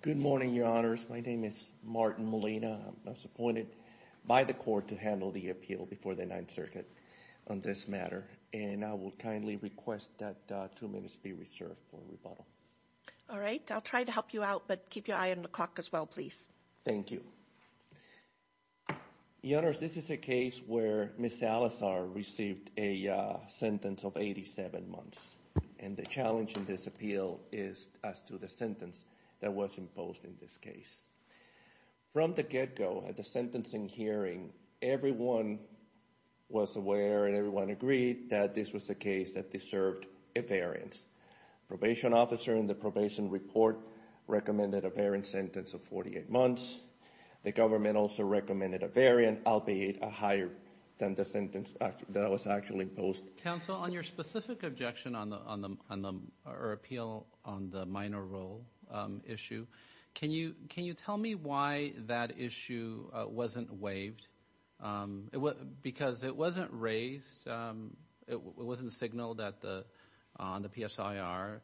Good morning, Your Honors. My name is Martin Molina. I was appointed by the court to handle the appeal before the Ninth Circuit on this matter, and I will kindly request that two minutes be reserved for rebuttal. All right. I'll try to help you out, but keep your eye on the clock as well, please. Thank you. Your Honors, this is a case where Ms. Salazar received a sentence of 87 months, and the challenge in this appeal is as to the sentence that was imposed in this case. From the get-go at the sentencing hearing, everyone was aware and everyone agreed that this was a case that deserved a variance. The probation officer in the probation report recommended a variance sentence of 48 months. The government also recommended a variance, albeit a higher than the sentence that was actually imposed. Counsel, on your specific objection or appeal on the minor role issue, can you tell me why that issue wasn't waived? Because it wasn't raised, it wasn't signaled on the PSIR.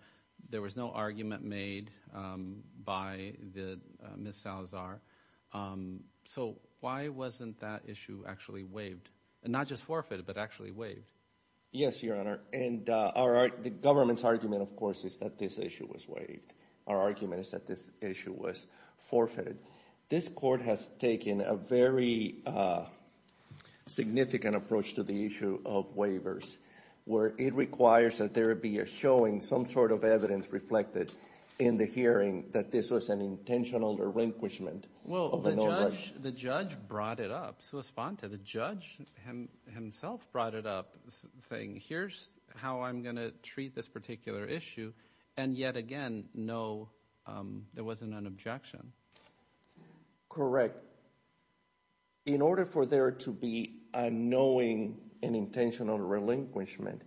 There was no argument made by Ms. Salazar. So, why wasn't that issue actually waived? Not just forfeited, but actually waived? Yes, Your Honor, and the government's argument, of course, is that this issue was waived. Our argument is that this issue was forfeited. This court has taken a very significant approach to the issue of waivers, where it requires that there be a showing, some sort of evidence reflected in the hearing, that this was an intentional relinquishment. Well, the judge brought it up. The judge himself brought it up, saying here's how I'm going to treat this particular issue, and yet again, no, there wasn't an objection. Correct. In order for there to be a knowing and intentional relinquishment,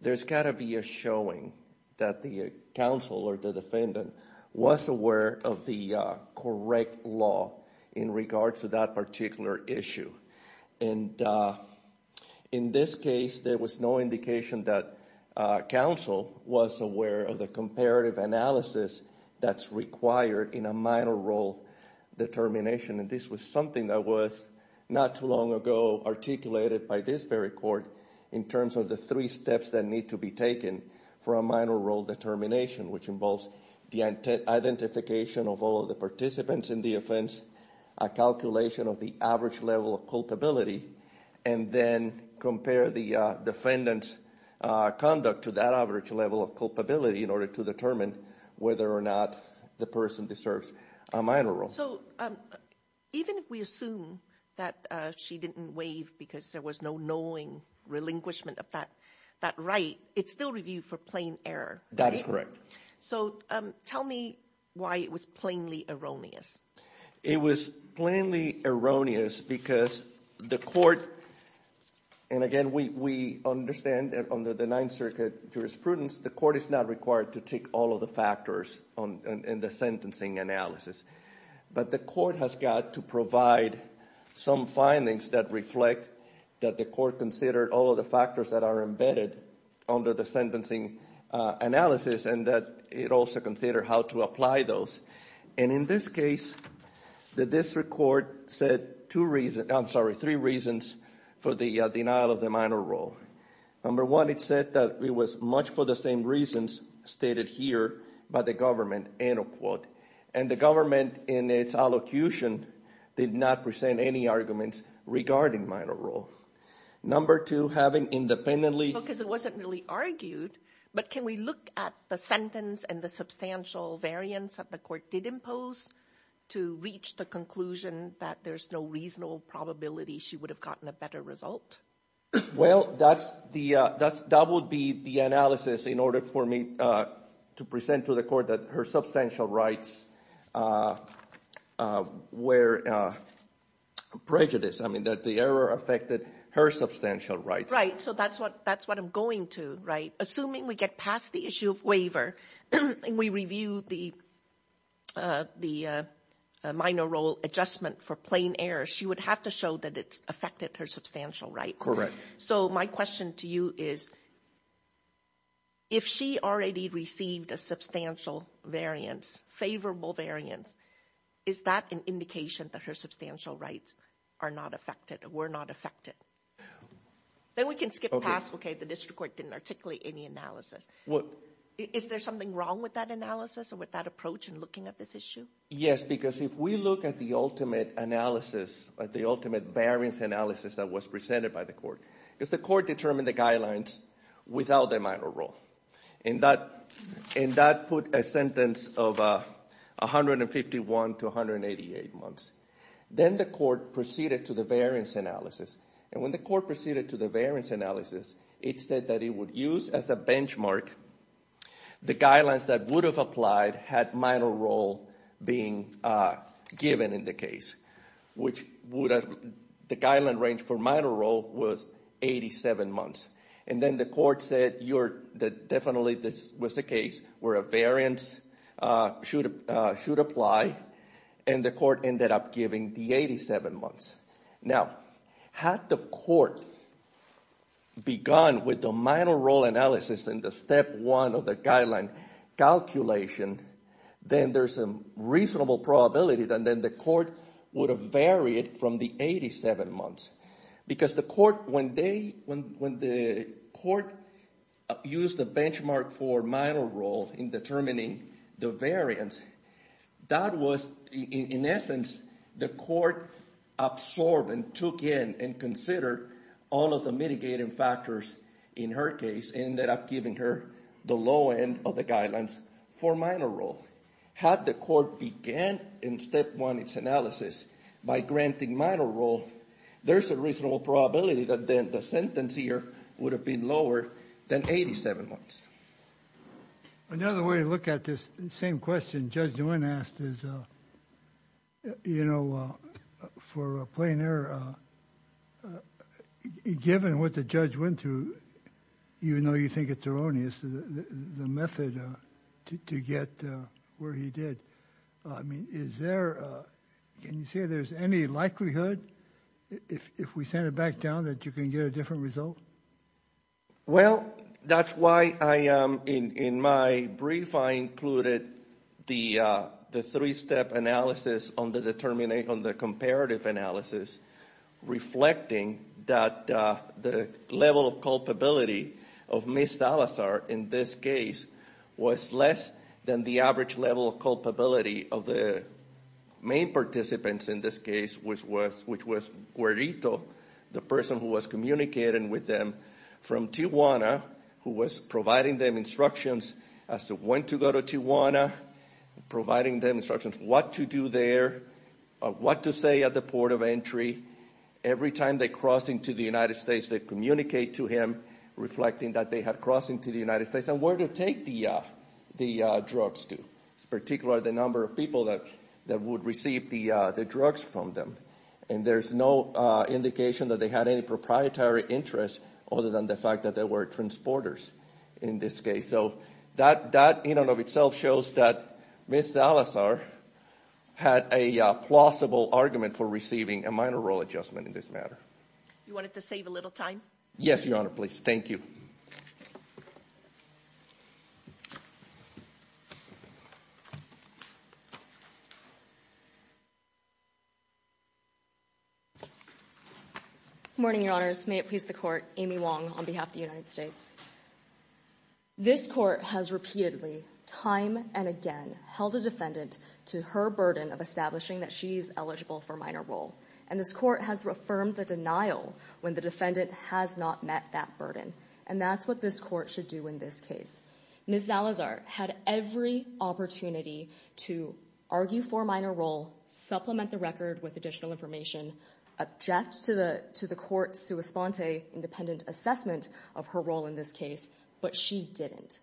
there's got to be a showing that the counsel or the defendant was aware of the correct law in regards to that particular issue. In this case, there was no indication that counsel was aware of the comparative analysis that's required in a minor role determination, and this was something that was not too long ago articulated by this very court in terms of three steps that need to be taken for a minor role determination, which involves the identification of all of the participants in the offense, a calculation of the average level of culpability, and then compare the defendant's conduct to that average level of culpability in order to determine whether or not the person deserves a minor role. So even if we assume that she didn't waive because there was no knowing relinquishment of that right, it's still reviewed for plain error. That is correct. So tell me why it was plainly erroneous. It was plainly erroneous because the court, and again, we understand that under the Ninth Circuit jurisprudence, the court is not required to take all of the factors in the sentencing analysis, but the court has got to provide some findings that reflect that the court considered all of the factors that are embedded under the sentencing analysis and that it also considered how to apply those. And in this case, the district court said two reasons, I'm sorry, three reasons for the denial of the minor role. Number one, it said that it was much for the same reasons stated here by the government, end of quote. And the government in its allocution did not present any arguments regarding minor role. Number two, having independently... Because it wasn't really argued, but can we look at the sentence and the substantial variance that the court did impose to reach the conclusion that there's no reasonable probability she would have gotten a better result? Well, that would be the analysis in order for me to present to the court that her substantial rights were prejudice. I mean, that the error affected her substantial rights. Right, so that's what I'm going to, right? Assuming we get past the issue of waiver and we review the minor role adjustment for plain error, she would have to show that it affected her substantial rights. Correct. So my question to you is, if she already received a substantial variance, favorable variance, is that an indication that her substantial rights are not affected, were not affected? Then we can skip past, okay, the district court didn't articulate any analysis. Is there something wrong with that analysis and with that approach in looking at this issue? Yes, because if we look at the ultimate analysis, at the ultimate variance analysis that was presented by the court, if the court determined the guidelines without the minor role, and that put a sentence of 151 to 188 months, then the court proceeded to the variance analysis. And when the court proceeded to the variance analysis, it said that as a benchmark, the guidelines that would have applied had minor role being given in the case, which would have, the guideline range for minor role was 87 months. And then the court said, you're, definitely this was the case where a variance should apply, and the court ended up determining the 87 months. Now, had the court begun with the minor role analysis in the step one of the guideline calculation, then there's a reasonable probability that then the court would have varied from the 87 months. Because the court, when they, when the court used the minor role in determining the variance, that was, in essence, the court absorbed and took in and considered all of the mitigating factors in her case and ended up giving her the low end of the guidelines for minor role. Had the court began in step one its analysis by granting minor role, there's a reasonable probability that then the sentence here would have been lower than 87 months. Another way to look at this same question Judge DeWin asked is, you know, for a plain error, given what the judge went through, even though you think it's erroneous, the method to get where he did, I mean, is there, can you say there's any likelihood, if we send it back down, that you can get a different result? Well, that's why I, in my brief, I included the three-step analysis on the comparative analysis, reflecting that the level of culpability of Miss Salazar in this case was less than the average level of culpability of the main participants in this case, which was Querrito, the person who was communicating with them from Tijuana, who was providing them instructions as to when to go to Tijuana, providing them instructions what to do there, what to say at the port of entry. Every time they cross into the United States, they communicate to him reflecting that they had crossed into the United States and where to take the drugs to, particularly the number of people that would receive the drugs from them. And there's no indication that they had any proprietary interest other than the fact that they were transporters in this case. So that, in and of itself, shows that Miss Salazar had a plausible argument for receiving a minor role adjustment in this matter. You want it to save a little time? Yes, Your Honor, please. Thank you. Good morning, Your Honors. May it please the Court, Amy Wong on behalf of the United States. This Court has repeatedly, time and again, held a defendant to her burden of establishing that she's eligible for minor role. And this Court has affirmed the denial when the defendant has not met that burden. And that's what this Court should do in this case. Miss Salazar had every opportunity to argue for minor role, supplement the record with additional information, object to the Court's sua sponte independent assessment of her role in this case, but she didn't.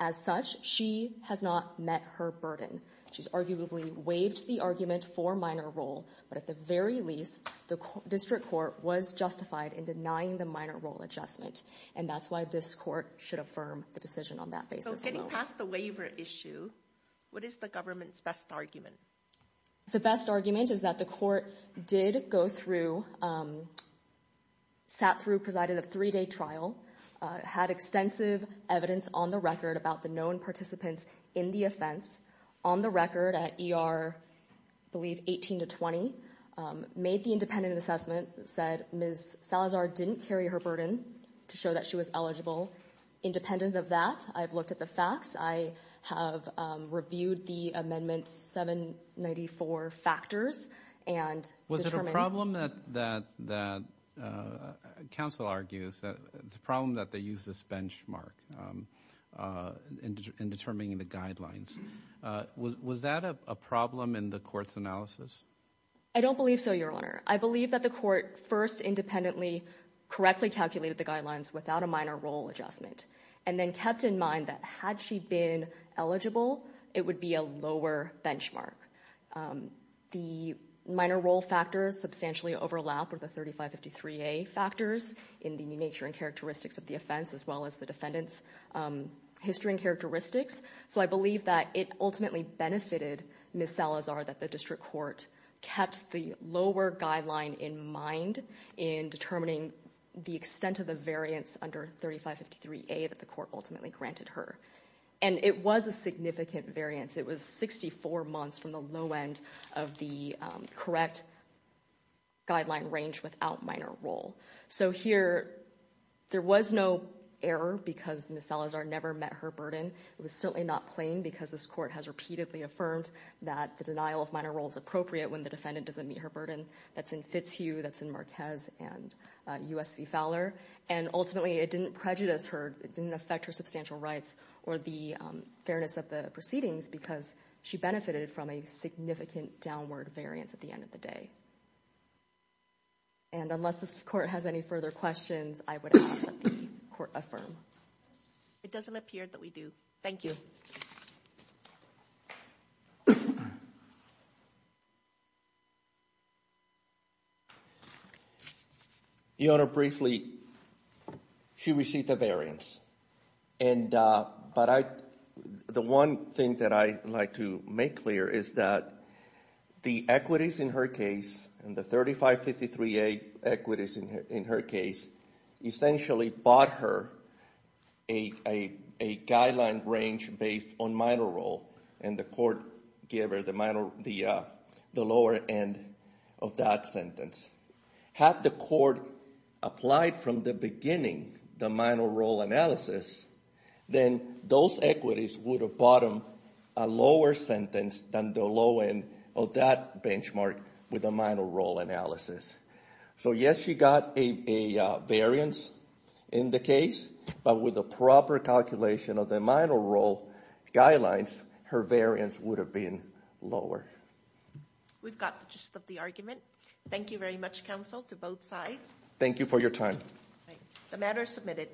As such, she has not met her burden. She's arguably waived the argument for minor role, but at the very least, the District Court was justified in denying the minor role adjustment. And that's why this Court should affirm the decision on that basis. So getting past the waiver issue, what is the government's best argument? The best argument is that the Court did go through, sat through, presided a three-day trial, had extensive evidence on the record about the known participants in the offense, on the record at ER, I believe, 18 to 20, made the independent assessment, said Miss Salazar didn't carry her burden to show that she was eligible. Independent of that, I've looked at the facts. I have reviewed the amendment's 794 factors and determined... Was it a problem that counsel argues that they use this benchmark in determining the guidelines? Was that a problem in the Court's analysis? I don't believe so, Your Honor. I believe that the Court first independently, correctly calculated the guidelines without a minor role adjustment, and then kept in mind that had she been eligible, it would be a lower benchmark. The minor role factors substantially overlap with the 3553A factors in the nature and characteristics of the offense, as well as the defendant's history and characteristics. So I believe that it ultimately benefited Miss Salazar that the District Court kept the lower guideline in mind in determining the extent of the variance under 3553A that the Court ultimately granted her. And it was a significant variance. It was 64 months from the low end of the correct guideline range without minor role. So here, there was no error because Miss Salazar never met her burden. It was certainly not plain because this Court has repeatedly affirmed that the denial of minor role is appropriate when the defendant doesn't meet her burden. That's in Fitzhugh, that's in Marquez, and U.S. v. Fowler. And ultimately, it didn't prejudice her. It didn't affect her substantial rights or the fairness of the proceedings because she benefited from a significant downward variance at the end of the day. And unless this Court has any further questions, I would ask that the Court affirm. It doesn't appear that we do. Thank you. Your Honor, briefly, she received a variance. But the one thing that I'd like to make clear is that the equities in her case, and the 3553A equities in her case, essentially bought her a guideline range based on minor role and the lower end of that sentence. Had the Court applied from the beginning the minor role analysis, then those equities would have bought them a lower sentence than the low end of that benchmark with a minor role analysis. So yes, she got a variance in the case, but with the proper calculation of the minor role guidelines, her variance would have been lower. We've got the gist of the argument. Thank you very much, counsel, to both sides. Thank you for your time. The matter is submitted.